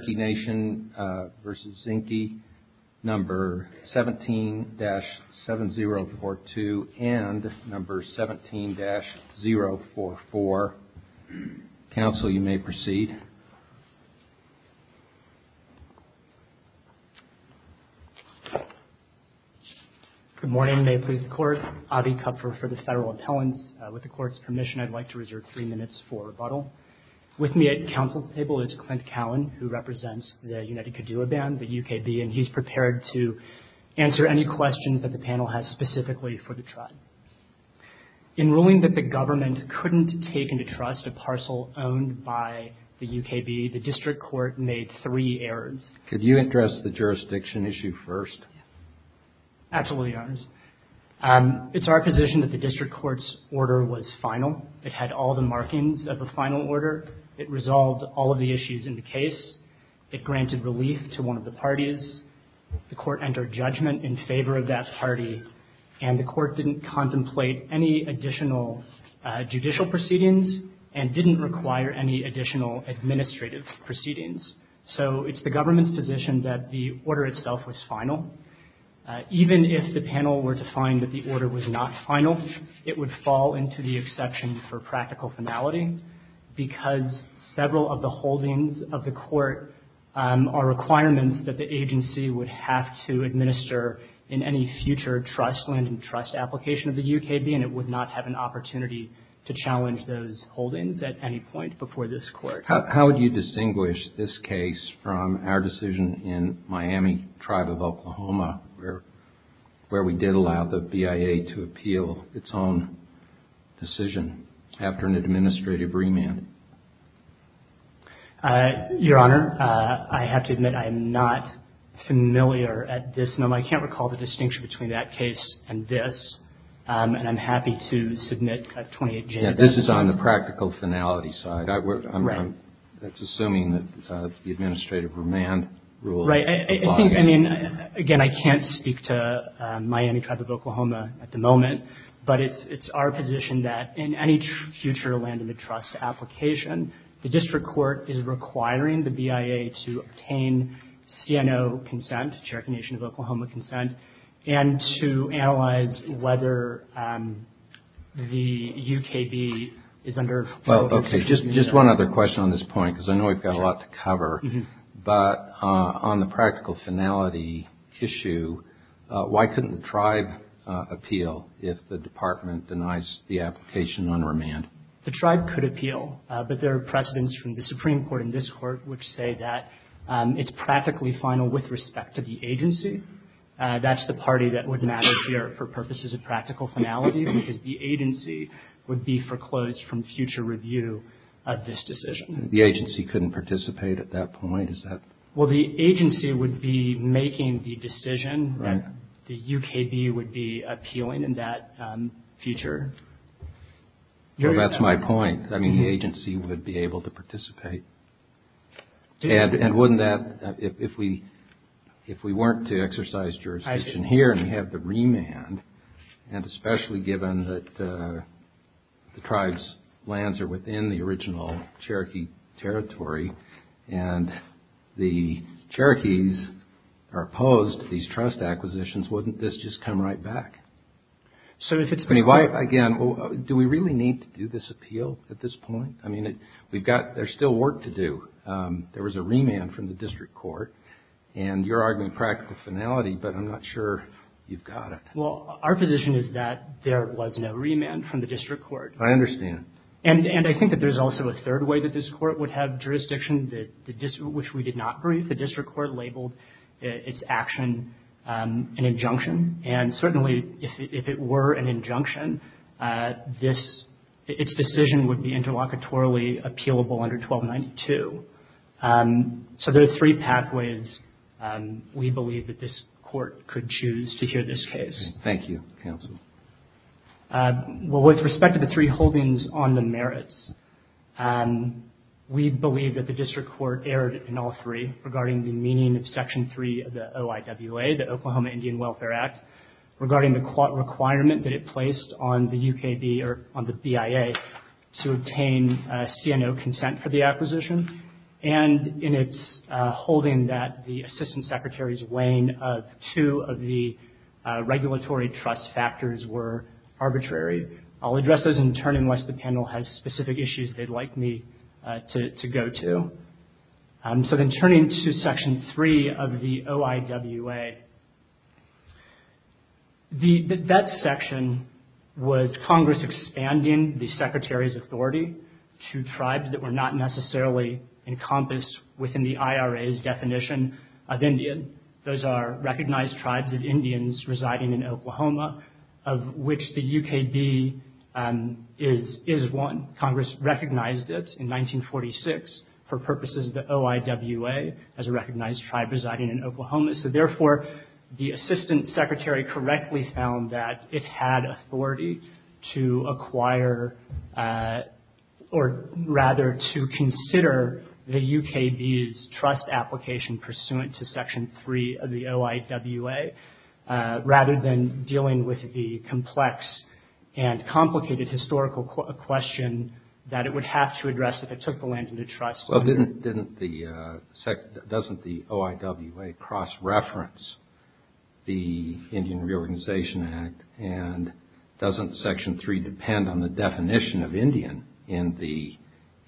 17-7042 and 17-044. Council, you may proceed. Good morning. May it please the Court. Avi Kupfer for the Federal Appellants. With the Court's permission, I'd like to reserve three minutes for rebuttal. With me at Council's bench is Clint Cowan, who represents the United Kituwa Band, the UKB, and he's prepared to answer any questions that the panel has specifically for the tribe. In ruling that the government couldn't take into trust a parcel owned by the UKB, the District Court made three errors. Could you address the jurisdiction issue first? Absolutely, Your Honors. It's our position that the District Court's order was final. It had all the markings of a final order. It resolved all of the issues in the case. It granted relief to one of the parties. The Court entered judgment in favor of that party, and the Court didn't contemplate any additional judicial proceedings and didn't require any additional administrative proceedings. So it's the government's position that the order itself was final. Even if the panel were to find that the order was not final, it would fall into the exception for practical finality, because several of the holdings of the Court are requirements that the agency would have to administer in any future trust land and trust application of the UKB, and it would not have an opportunity to challenge those holdings at any point before this Court. How would you distinguish this case from our decision in Miami Tribe of Oklahoma, where we did allow the BIA to appeal its own decision after an administrative remand? Your Honor, I have to admit I'm not familiar at this moment. I can't recall the distinction between that case and this, and I'm happy to submit 28J. This is on the practical finality side. It's assuming that the administrative remand rule applies. Again, I can't speak to Miami Tribe of Oklahoma at the moment, but it's our position that in any future land and trust application, the District Court is requiring the BIA to obtain CNO consent, Cherokee Nation of Oklahoma consent, and to analyze whether the UKB is under full administrative remand. Well, okay. Just one other question on this point, because I know we've got a lot to cover. But on the practical finality issue, why couldn't the Tribe appeal if the Department denies the application on remand? The Tribe could appeal, but there are precedents from the Supreme Court and this Court which say that it's practically final with respect to the agency. That's the party that would not appear for purposes of practical finality, because the agency would be foreclosed from future review of this decision. The agency couldn't participate at that point? Well, the agency would be making the decision that the UKB would be appealing in that future. That's my point. I mean, the agency would be able to participate. And wouldn't that, if we weren't to exercise jurisdiction here and we have the remand, and especially given that the Tribe's lands are within the original Cherokee territory, and the Cherokees are opposed to these trust acquisitions, wouldn't this just come right back? Again, do we really need to do this appeal at this point? I mean, there's still work to do. There was a remand from the District Court, and you're arguing practical finality, but I'm not sure you've got it. Well, our position is that there was no remand from the District Court. I understand. And I think that there's also a third way that this Court would have jurisdiction, which we did not brief. The District Court labeled its action an injunction, and certainly if it were an injunction, its decision would be interlocutorily appealable under 1292. So there are three pathways we believe that this Court could choose to hear this case. Thank you, Counsel. Well, with respect to the three holdings on the merits, we believe that the District Court erred in all three regarding the meaning of Section 3 of the OIWA, the Oklahoma Indian Welfare Act, regarding the requirement that it placed on the UKB, or on the BIA, to obtain CNO consent for the acquisition, and in its holding that the Assistant Secretary's weighing of two of the regulatory trust factors were arbitrary. I'll address those in turn unless the panel has specific issues they'd like me to go to. So then turning to Section 3 of the OIWA, that section was Congress expanding the Secretary's authority to tribes that were not necessarily encompassed within the IRA's definition of Indian. Those are recognized tribes of Indians residing in Oklahoma, of which the UKB is one. Congress recognized it in 1946 for purposes of the OIWA as a recognized tribe residing in Oklahoma. So therefore, the Assistant Secretary correctly found that it had authority to acquire or rather to consider the UKB's trust application pursuant to Section 3 of the OIWA, rather than dealing with the complex and complicated historical question that it would have to address if it took the land into trust. Well, doesn't the OIWA cross-reference the Indian Reorganization Act, and doesn't Section 3 depend on the definition of Indian in the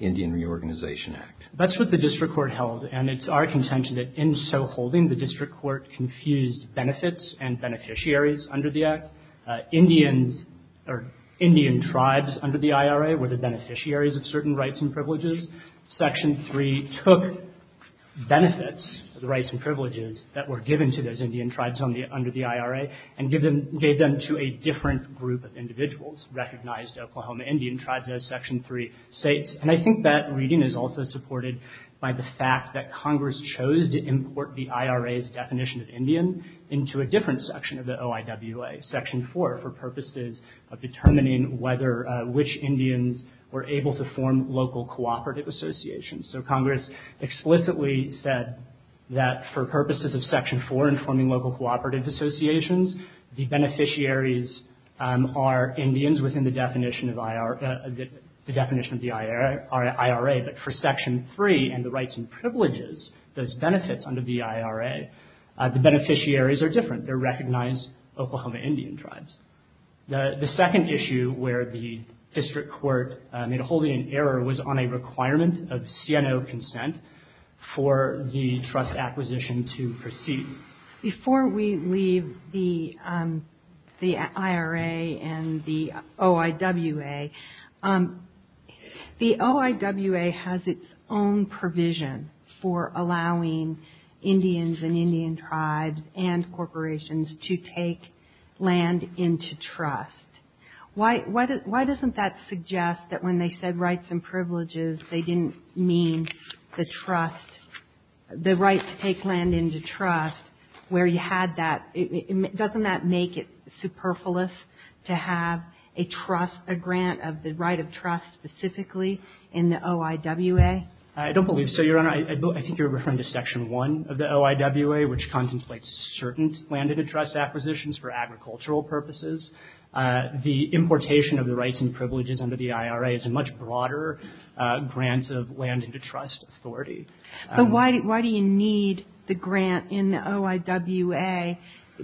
Indian Reorganization Act? That's what the District Court held, and it's our contention that in so holding, the District Court confused benefits and beneficiaries under the Act. Indian tribes under the IRA were the beneficiaries of certain rights and privileges. Section 3 took benefits of the rights and privileges that were given to those Indian tribes under the IRA and gave them to a different group of individuals, recognized Oklahoma Indian tribes as Section 3 states. And I think that reading is also supported by the fact that Congress chose to import the IRA's definition of Indian into a different section of the OIWA, Section 4, for purposes of determining whether which Indians were able to form local cooperative associations. So Congress explicitly said that for purposes of Section 4 in forming local cooperative associations, the beneficiaries are Indians within the definition of the IRA, but for Section 3 and the rights and privileges, those benefits under the IRA, the beneficiaries are different. They're recognized Oklahoma Indian tribes. The second issue where the District Court made a holding in error was on a requirement of CNO consent for the trust acquisition to proceed. Before we leave the IRA and the OIWA has its own provision for allowing Indians and Indian tribes and corporations to take land into trust. Why doesn't that suggest that when they said rights and privileges, they didn't mean the trust, the right to take land into trust, where you had that, doesn't that make it superfluous to have a trust, a grant of the right of trust specifically in the OIWA? I don't believe so, Your Honor. I think you're referring to Section 1 of the OIWA, which contemplates certain land into trust acquisitions for agricultural purposes. The importation of the rights and privileges under the IRA is a much broader grant of land into trust authority. But why do you need the grant in the OIWA?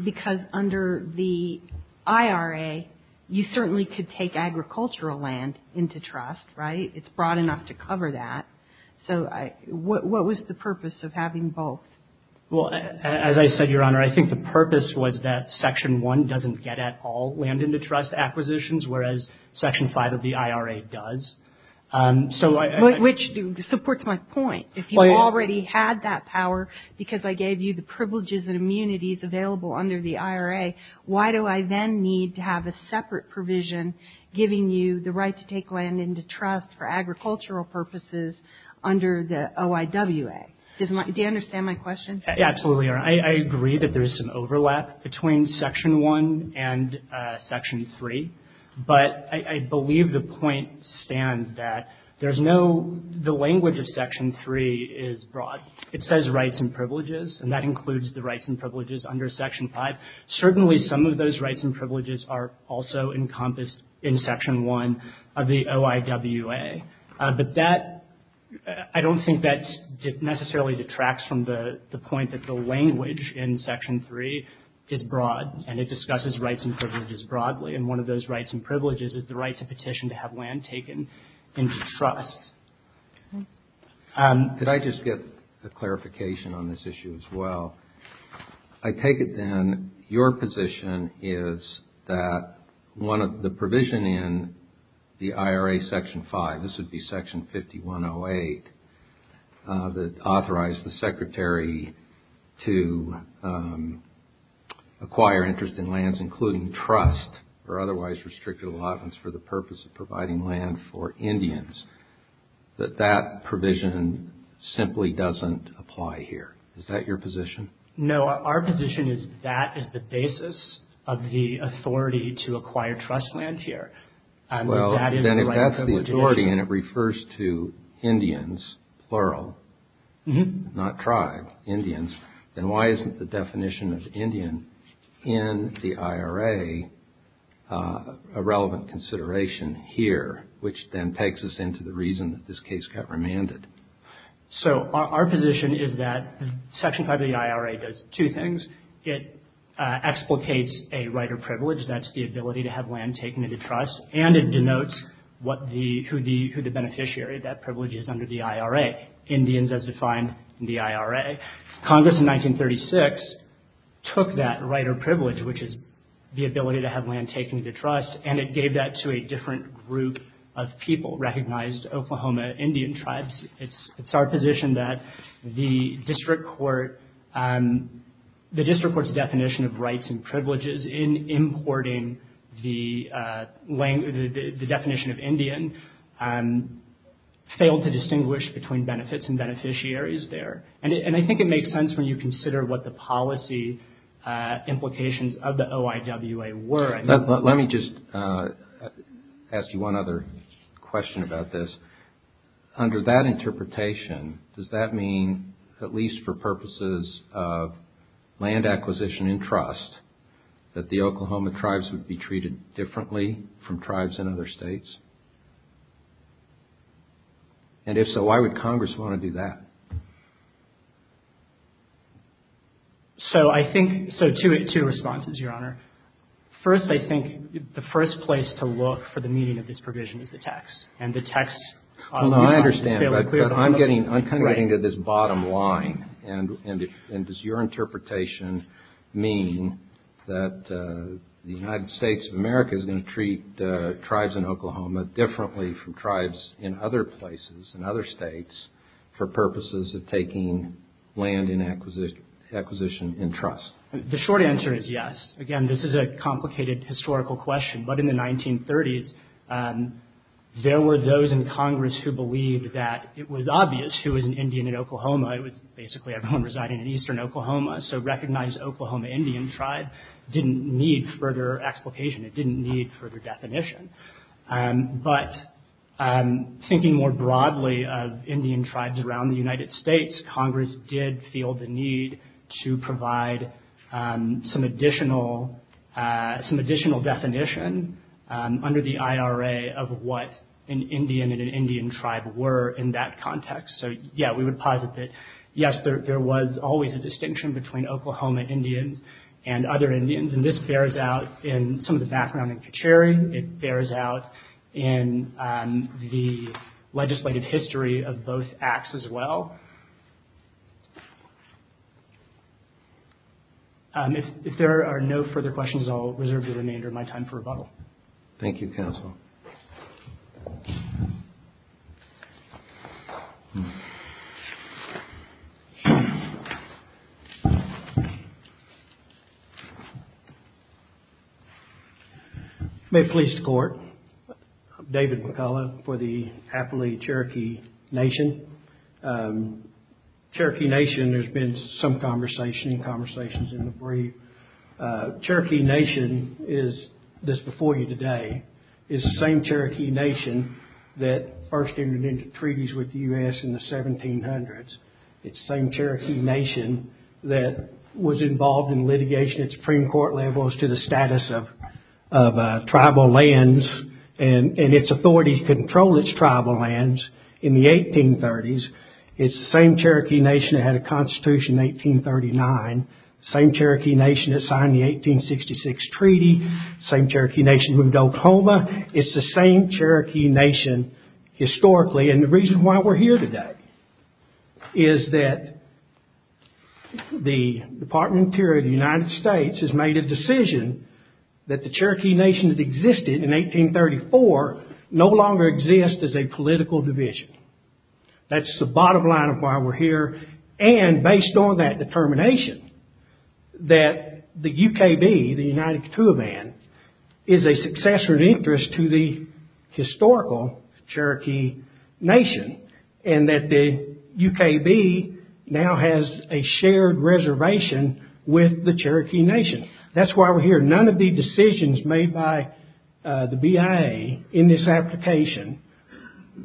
Because under the IRA, you certainly could take agricultural land into trust, right? It's broad enough to cover that. So what was the purpose of having both? As I said, Your Honor, I think the purpose was that Section 1 doesn't get at all land into trust acquisitions, whereas Section 5 of the IRA does. Which supports my point. If you already had that power because I gave you the privileges and immunities available under the IRA, why do I then need to have a separate provision giving you the right to take land into trust for agricultural purposes under the OIWA? Do you understand my question? Absolutely, Your Honor. I agree that there's some overlap between Section 1 and Section 3, but I believe the point stands that the language of Section 3 is broad. It says rights and privileges, and that includes the rights and privileges under Section 5. Certainly some of those rights and privileges are also encompassed in Section 1 of the OIWA. But I don't think that necessarily detracts from the point that the language in Section 3 is broad, and it discusses rights and privileges broadly. And one of those rights and privileges is the right to petition to have land taken into trust. Could I just get a clarification on this issue as well? I take it then your position is that one of the provision in the IRA Section 5, this would be Section 5108, that authorized the Secretary to acquire interest in lands including trust or otherwise restricted allotments for the purpose of providing land for Indians, that that provision simply doesn't apply here. Is that your position? No, our position is that is the basis of the authority to Indians, plural, not tribe, Indians, then why isn't the definition of Indian in the IRA a relevant consideration here, which then takes us into the reason that this case got remanded? So our position is that Section 5 of the IRA does two things. It explicates a right or privilege, that's the ability to have land taken into trust, and it denotes who the beneficiary of that privilege is under the IRA. Indians as defined in the IRA. Congress in 1936 took that right or privilege, which is the ability to have land taken into trust, and it gave that to a different group of people, recognized Oklahoma Indian tribes. It's our position that the District Court's definition of rights and privileges in importing the definition of Indian failed to distinguish between benefits and beneficiaries there. And I think it makes sense when you consider what the policy implications of the OIWA were. Let me just ask you one other question about this. Under that interpretation, does that mean, at least for purposes of land acquisition and trust, that the Oklahoma tribes would be treated differently from tribes in other states? And if so, why would Congress want to do that? So two responses, Your Honor. First, I think the first place to look for the meaning of this provision is the text. I'm kind of getting to this bottom line. And does your interpretation mean that the United States of America is going to treat tribes in Oklahoma differently from tribes in other places, in other states, for purposes of taking land acquisition in trust? The short answer is yes. Again, this is a complicated historical question. But in the 1930s, there were those in Congress who believed that it was obvious who was an Indian in Oklahoma. It was basically everyone residing in eastern Oklahoma. So recognize Oklahoma Indian tribe didn't need further explication. It didn't need further definition. But thinking more broadly of Indian tribes around the United States, Congress did feel the need to provide some additional definition under the IRA of what an Indian and an Indian tribe were in that context. So, yeah, we would posit that, yes, there was always a distinction between Oklahoma Indians and other Indians. And this bears out in some of the background in Kacheri. It bears out in the legislative history of both acts as well. If there are no further questions, I'll reserve the remainder of my time for rebuttal. Thank you, counsel. David McCullough. May it please the Court. I'm David McCullough for the Afflee Cherokee Nation. Cherokee Nation, there's been some conversation and conversations in the brief. Cherokee Nation is, this before you today, is the same Cherokee Nation that first entered into treaties with the U.S. in the 1700s. It's the same Cherokee Nation that was involved in litigation at Supreme Court level as to the status of tribal lands and its authority to control its tribal lands in the 1830s. It's the same Cherokee Nation that had a constitution in 1839. Same Cherokee Nation that signed the 1866 treaty. Same Cherokee Nation moved to Oklahoma. It's the same Cherokee Nation historically. And the reason why we're here today is that the Department of the Interior of the United States has made a decision that the Cherokee Nation that existed in 1834 no longer exists as a political division. That's the bottom line of why we're here. And based on that determination, that the UKB, the United Katooban, is a successor of interest to the historical Cherokee Nation and that the UKB now has a shared reservation with the Cherokee Nation. That's why we're here. None of the decisions made by the BIA in this application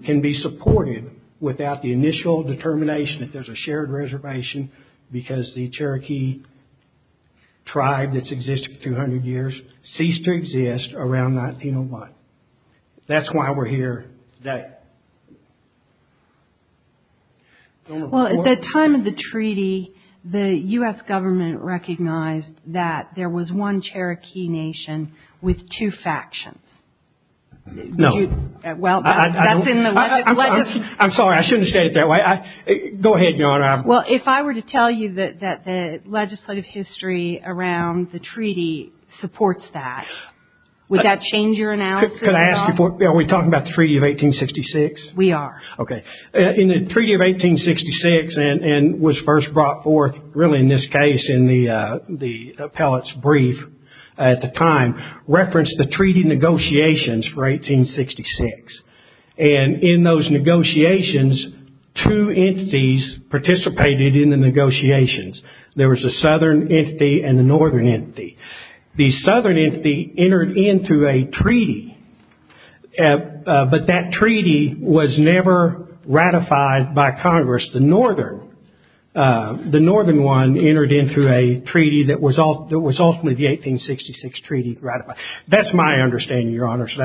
can be supported without the initial determination that there's a shared reservation because the Cherokee tribe that's existed for 200 years ceased to exist around 1901. That's why we're here today. Well, at the time of the treaty, the U.S. government recognized that there was one Cherokee Nation with two factions. No. I'm sorry. I shouldn't have said it that way. Go ahead, Your Honor. Well, if I were to tell you that the legislative history around the treaty supports that, would that change your analysis? Are we talking about the Treaty of 1866? We are. Okay. In the Treaty of 1866, and was first brought forth really in this case in the appellate's brief at the time, referenced the treaty negotiations for 1866. And in those negotiations, two entities participated in the negotiations. There was a southern entity and a northern entity. The southern entity entered into a treaty, but that treaty was never ratified by Congress. The northern one entered into a treaty that was ultimately the 1866 treaty ratified. That's my understanding, Your Honor. So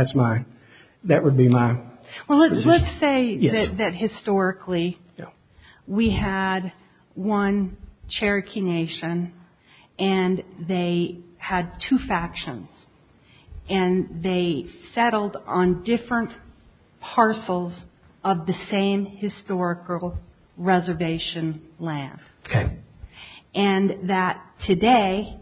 that would be my... Well, let's say that historically we had one Cherokee Nation and they had two factions and they settled on different parcels of the same historical reservation land. Okay. And that today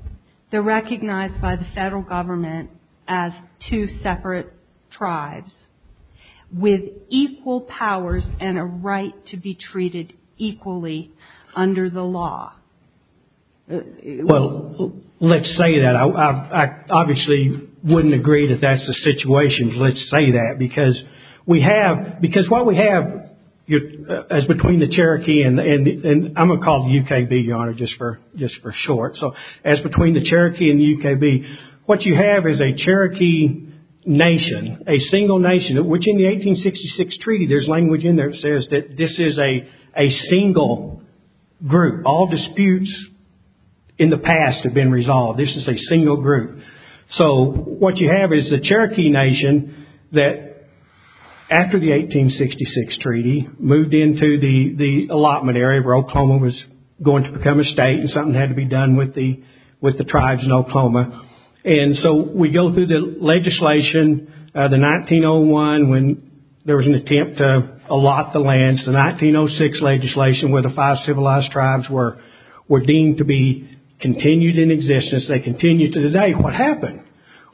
they're recognized by the federal government as two separate tribes with equal powers and a right to be treated equally under the law. Well, let's say that. I obviously wouldn't agree that that's the situation. Let's say that because we have, because what we have as between the Cherokee and I'm going to call the UKB, Your Honor, just for short. So as between the Cherokee and the UKB, what you have is a Cherokee Nation, a single nation, which in the 1866 treaty, there's language in there that says that this is a single group. All disputes in the past have been resolved. This is a single group. So what you have is the Cherokee Nation that after the 1866 treaty moved into the allotment area where Oklahoma was going to become a state and something had to be done with the tribes in Oklahoma. And so we go through the legislation, the 1901 when there was an attempt to allot the lands, the 1906 legislation where the five civilized tribes were deemed to be continued in existence. They continue to today. What happened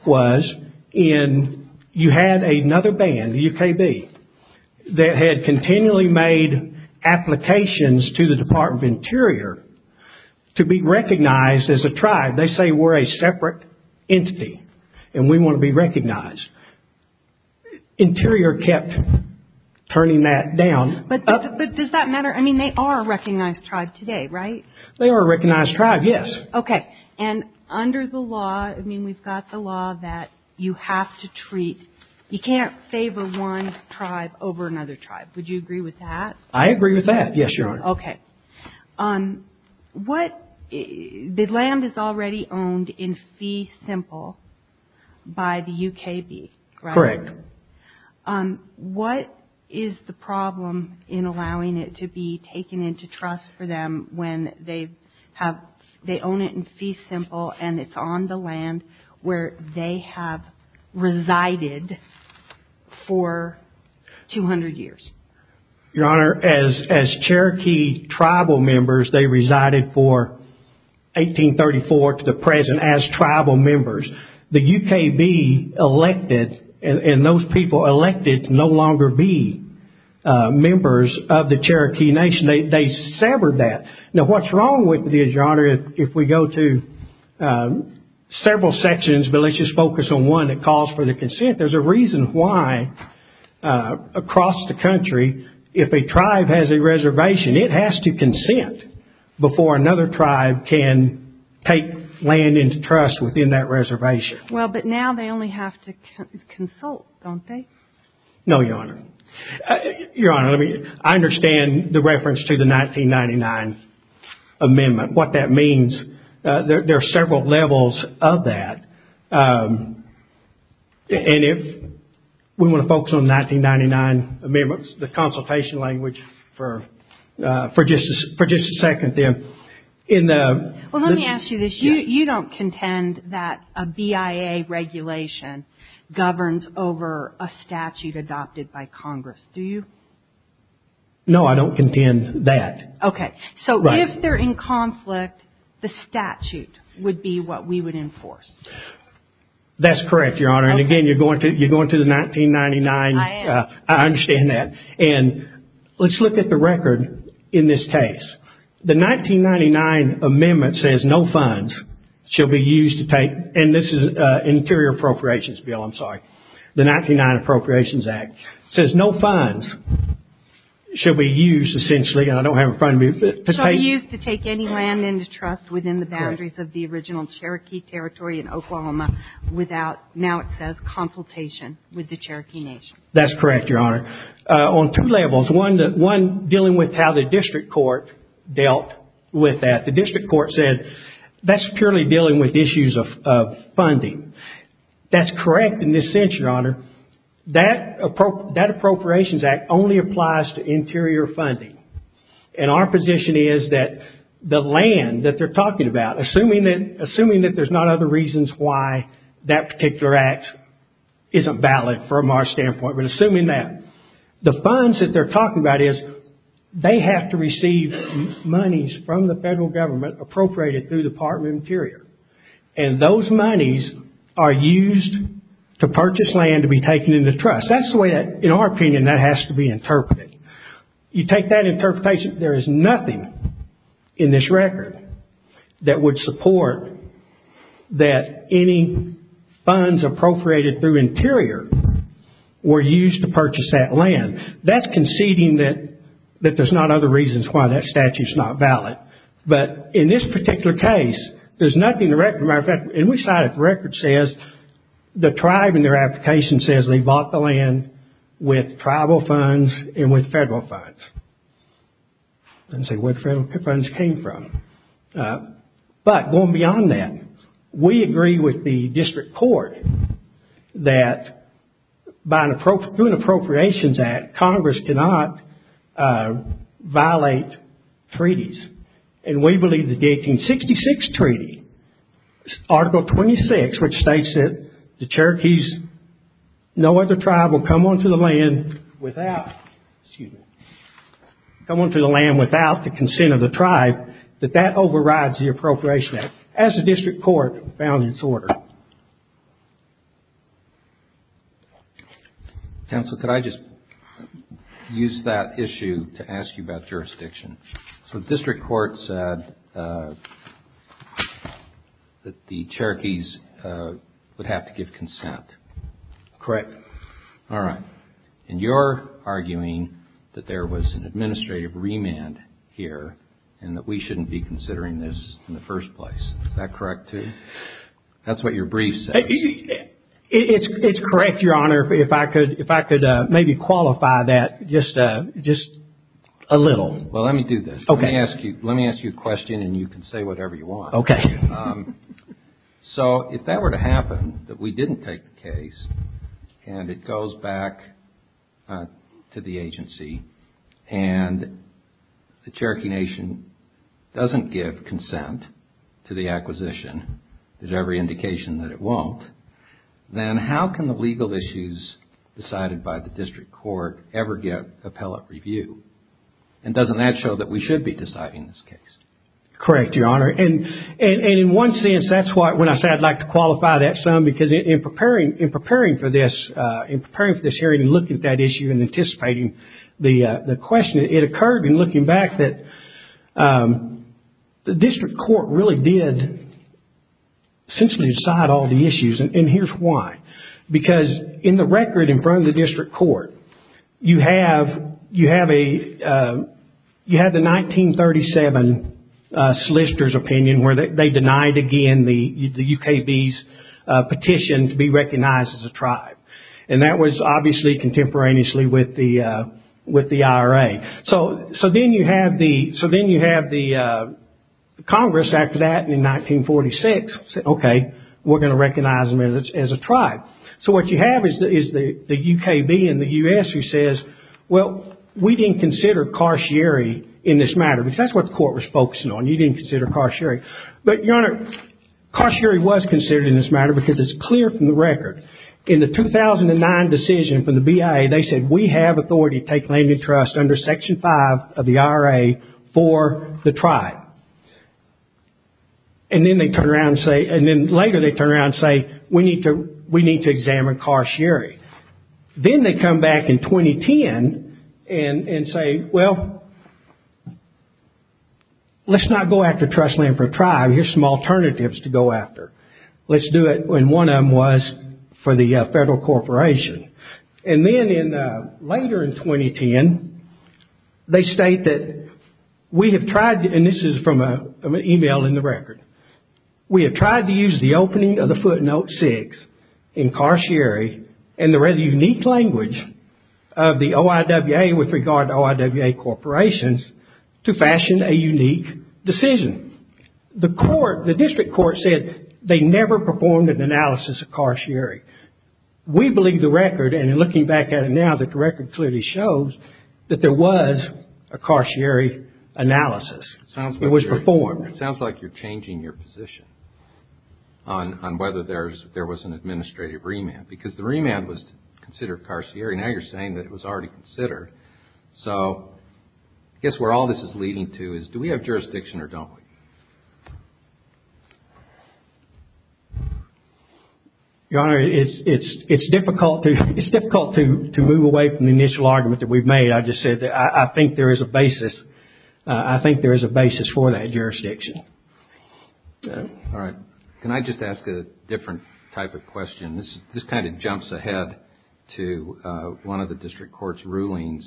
was you had another band, the UKB, that had continually made applications to the entity and we want to be recognized. Interior kept turning that down. But does that matter? I mean, they are a recognized tribe today, right? They are a recognized tribe, yes. Okay. And under the law, I mean, we've got the law that you have to treat, you can't favor one tribe over another tribe. Would you agree with that? I agree with that, yes, Your Honor. Okay. The land is already owned in Fee Simple by the UKB. Correct. What is the problem in allowing it to be taken into trust for them when they own it in Fee Simple and it's on the land where they have resided for 200 years? Your Honor, as Cherokee tribal members, they resided for 1834 to the present as tribal members. The UKB elected and those people elected to no longer be members of the Cherokee Nation, they severed that. Now, what's wrong with this, Your Honor, if we go to there's a reason why across the country if a tribe has a reservation, it has to consent before another tribe can take land into trust within that reservation. Well, but now they only have to consult, don't they? No, Your Honor. Your Honor, I understand the reference to the 1999 amendment, what that means. There are several levels of that. And if we want to focus on the 1999 amendment, the consultation language for just a second there. Well, let me ask you this. You don't contend that a BIA regulation governs over a statute adopted by Congress, do you? No, I don't contend that. Okay, so if they're in conflict, the statute would be what we would enforce. That's correct, Your Honor. And again, you're going to the 1999, I understand that. And let's look at the record in this case. The 1999 amendment says no funds shall be used to take, and this is an interior appropriations bill, I'm sorry. The 1999 Appropriations Act says no funds shall be used essentially, and I don't have it in front of me. Shall be used to take any land into trust within the boundaries of the original Cherokee territory in Oklahoma without, now it says, consultation with the Cherokee Nation. That's correct, Your Honor. On two levels, one dealing with how the district court dealt with that. The district court said that's purely dealing with issues of funding. That's correct in this sense, Your Honor. That Appropriations Act only applies to interior funding, and our position is that the land that they're talking about, assuming that there's not other reasons why that particular act isn't valid from our standpoint, but assuming that, the funds that they're talking about is, they have to receive monies from the federal government appropriated through the Department of Interior, and those monies are used to purchase land to be taken into trust. That's the way that, in our opinion, that has to be interpreted. You take that interpretation, there is nothing in this record that would support that any funds appropriated through Interior were used to purchase that land. That's conceding that there's not other reasons why that statute's not valid, but in this particular case, there's nothing in the record. As a matter of fact, in each side of the record says the tribe in their application says they bought the land with tribal funds and with federal funds. I didn't say where the federal funds came from. But, going beyond that, we agree with the district court that through an Appropriations Act, Congress cannot violate treaties, and we believe that the 1866 treaty, Article 26, which states that the Cherokees, no other tribe will come onto the land without the consent of the tribe, that that overrides the Appropriations Act, as the district court found in its order. Counsel, could I just use that issue to ask you about jurisdiction? So the district court said that the Cherokees would have to give the land to the Cherokees. Is that correct, too? That's what your brief says. It's correct, Your Honor, if I could maybe qualify that just a little. Well, let me do this. Let me ask you a question, and you can say whatever you want. So, if that were to happen, that we didn't take the case, and it goes back to the agency, and the Cherokee Nation doesn't give consent to the acquisition, there's every indication that it won't, then how can the legal issues decided by the district court ever get appellate review? And doesn't that show that we should be deciding this case? Correct, Your Honor, and in one sense, that's when I said I'd like to qualify that some, because in preparing for this hearing and looking at that issue and anticipating the question, it occurred in looking back that the district court really did essentially decide all the issues, and here's why. Because in the record in front of the district court, you have the 1937 solicitor's opinion where they denied again the UKB's petition to be recognized as a tribe, and that was obviously contemporaneously with the IRA. So then you have the Congress after that, and in 1946, okay, we're going to recognize them as a tribe. So what you have is the UKB and the U.S. who says, well, we didn't consider Carcieri in this matter, because that's what the court was focusing on. You didn't consider Carcieri. But, Your Honor, Carcieri was considered in this matter because it's clear from the record. In the 2009 decision from the BIA, they said we have authority to take land and trust under Section 5 of the IRA for the tribe. And then later they turn around and say, we need to examine Carcieri. Then they come back in 2010 and say, well, let's not go after trust land for a tribe. Here's some alternatives to go after. Let's do it when one of them was for the federal corporation. And then later in 2010, they state that we have tried, and this is from an email in the record, we have tried to use the opening of the footnote 6 in Carcieri and the rather unique language of the OIWA with regard to OIWA corporations to fashion a unique decision. The court, the district court said they never performed an analysis of Carcieri. We believe the record, and looking back at it now, that the record clearly shows that there was a Carcieri analysis. It was performed. It sounds like you're changing your position on whether there was an administrative remand, because the remand was considered Carcieri. Now you're saying that it was already considered. So I guess where all this is leading to is do we have jurisdiction or don't we? Your Honor, it's difficult to move away from the initial argument that we've made. I just said that I think there is a basis. I think there is a basis for that jurisdiction. All right. Can I just ask a different type of question? This kind of jumps ahead to one of the district court's rulings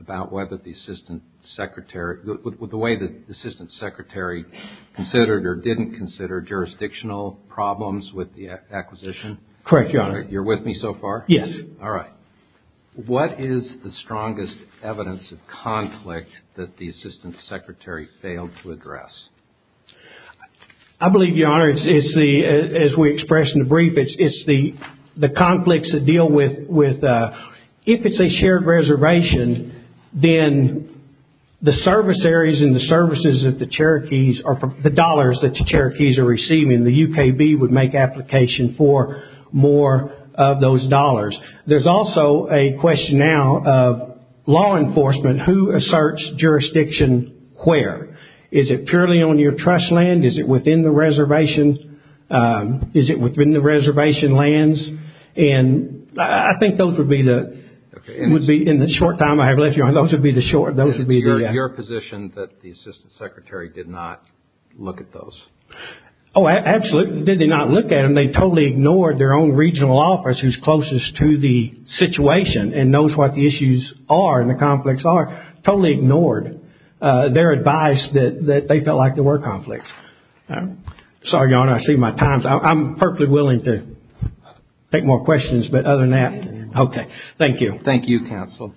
about whether the assistant secretary, the way the assistant secretary considered or didn't consider jurisdictional problems with the acquisition. Correct, Your Honor. You're with me so far? Yes. All right. What is the strongest evidence of conflict that the assistant secretary failed to address? I believe, Your Honor, it's the, as we say, shared reservation, then the service areas and the services that the Cherokees, or the dollars that the Cherokees are receiving, the UKB would make application for more of those dollars. There's also a question now of law enforcement. Who asserts jurisdiction where? Is it purely on your trust land? Is it within the reservation? Is it within the reservation lands? And I think those would be the, in the short time I have left, Your Honor, those would be the short, those would be the... It's your position that the assistant secretary did not look at those? Oh, absolutely. Did they not look at them? They totally ignored their own regional office who's closest to the situation and knows what the issues are and the conflicts are. Totally ignored their advice that they felt like there were conflicts. Sorry, Your Honor, I see my time's up. I'm perfectly willing to take more questions, but other than that, okay. Thank you. Thank you, counsel.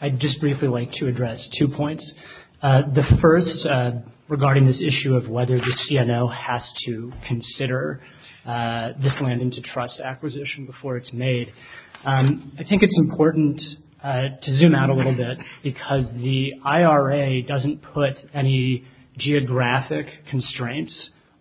I'd just briefly like to address two points. The first, regarding this issue of whether the CNO has to consider this land into trust acquisition before it's made. I think it's important to zoom out a little bit because the IRA doesn't put any geographic constraints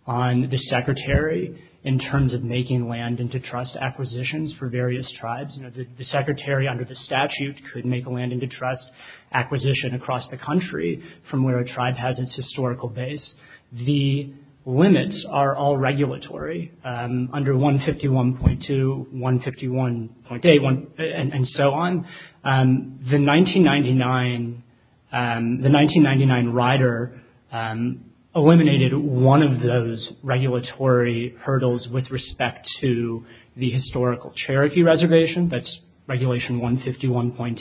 on the secretary in terms of making land into trust acquisitions for various tribes. The secretary under the statute could make land into trust acquisition across the country from where a tribe has its historical base. The limits are all regulatory under 151.2, 151.8, and so on. The 1999 rider eliminated one of those regulatory hurdles with respect to the historical Cherokee reservation. That's Regulation 151.8,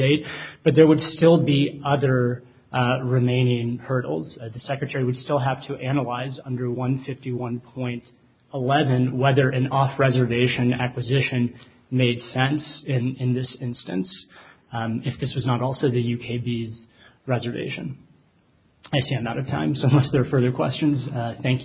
but there would still be other remaining hurdles. The secretary would still have to analyze under 151.11 whether an off-reservation acquisition made sense in this instance if this was not also the UKB's reservation. I see I'm out of time, so unless there are further questions, thank you.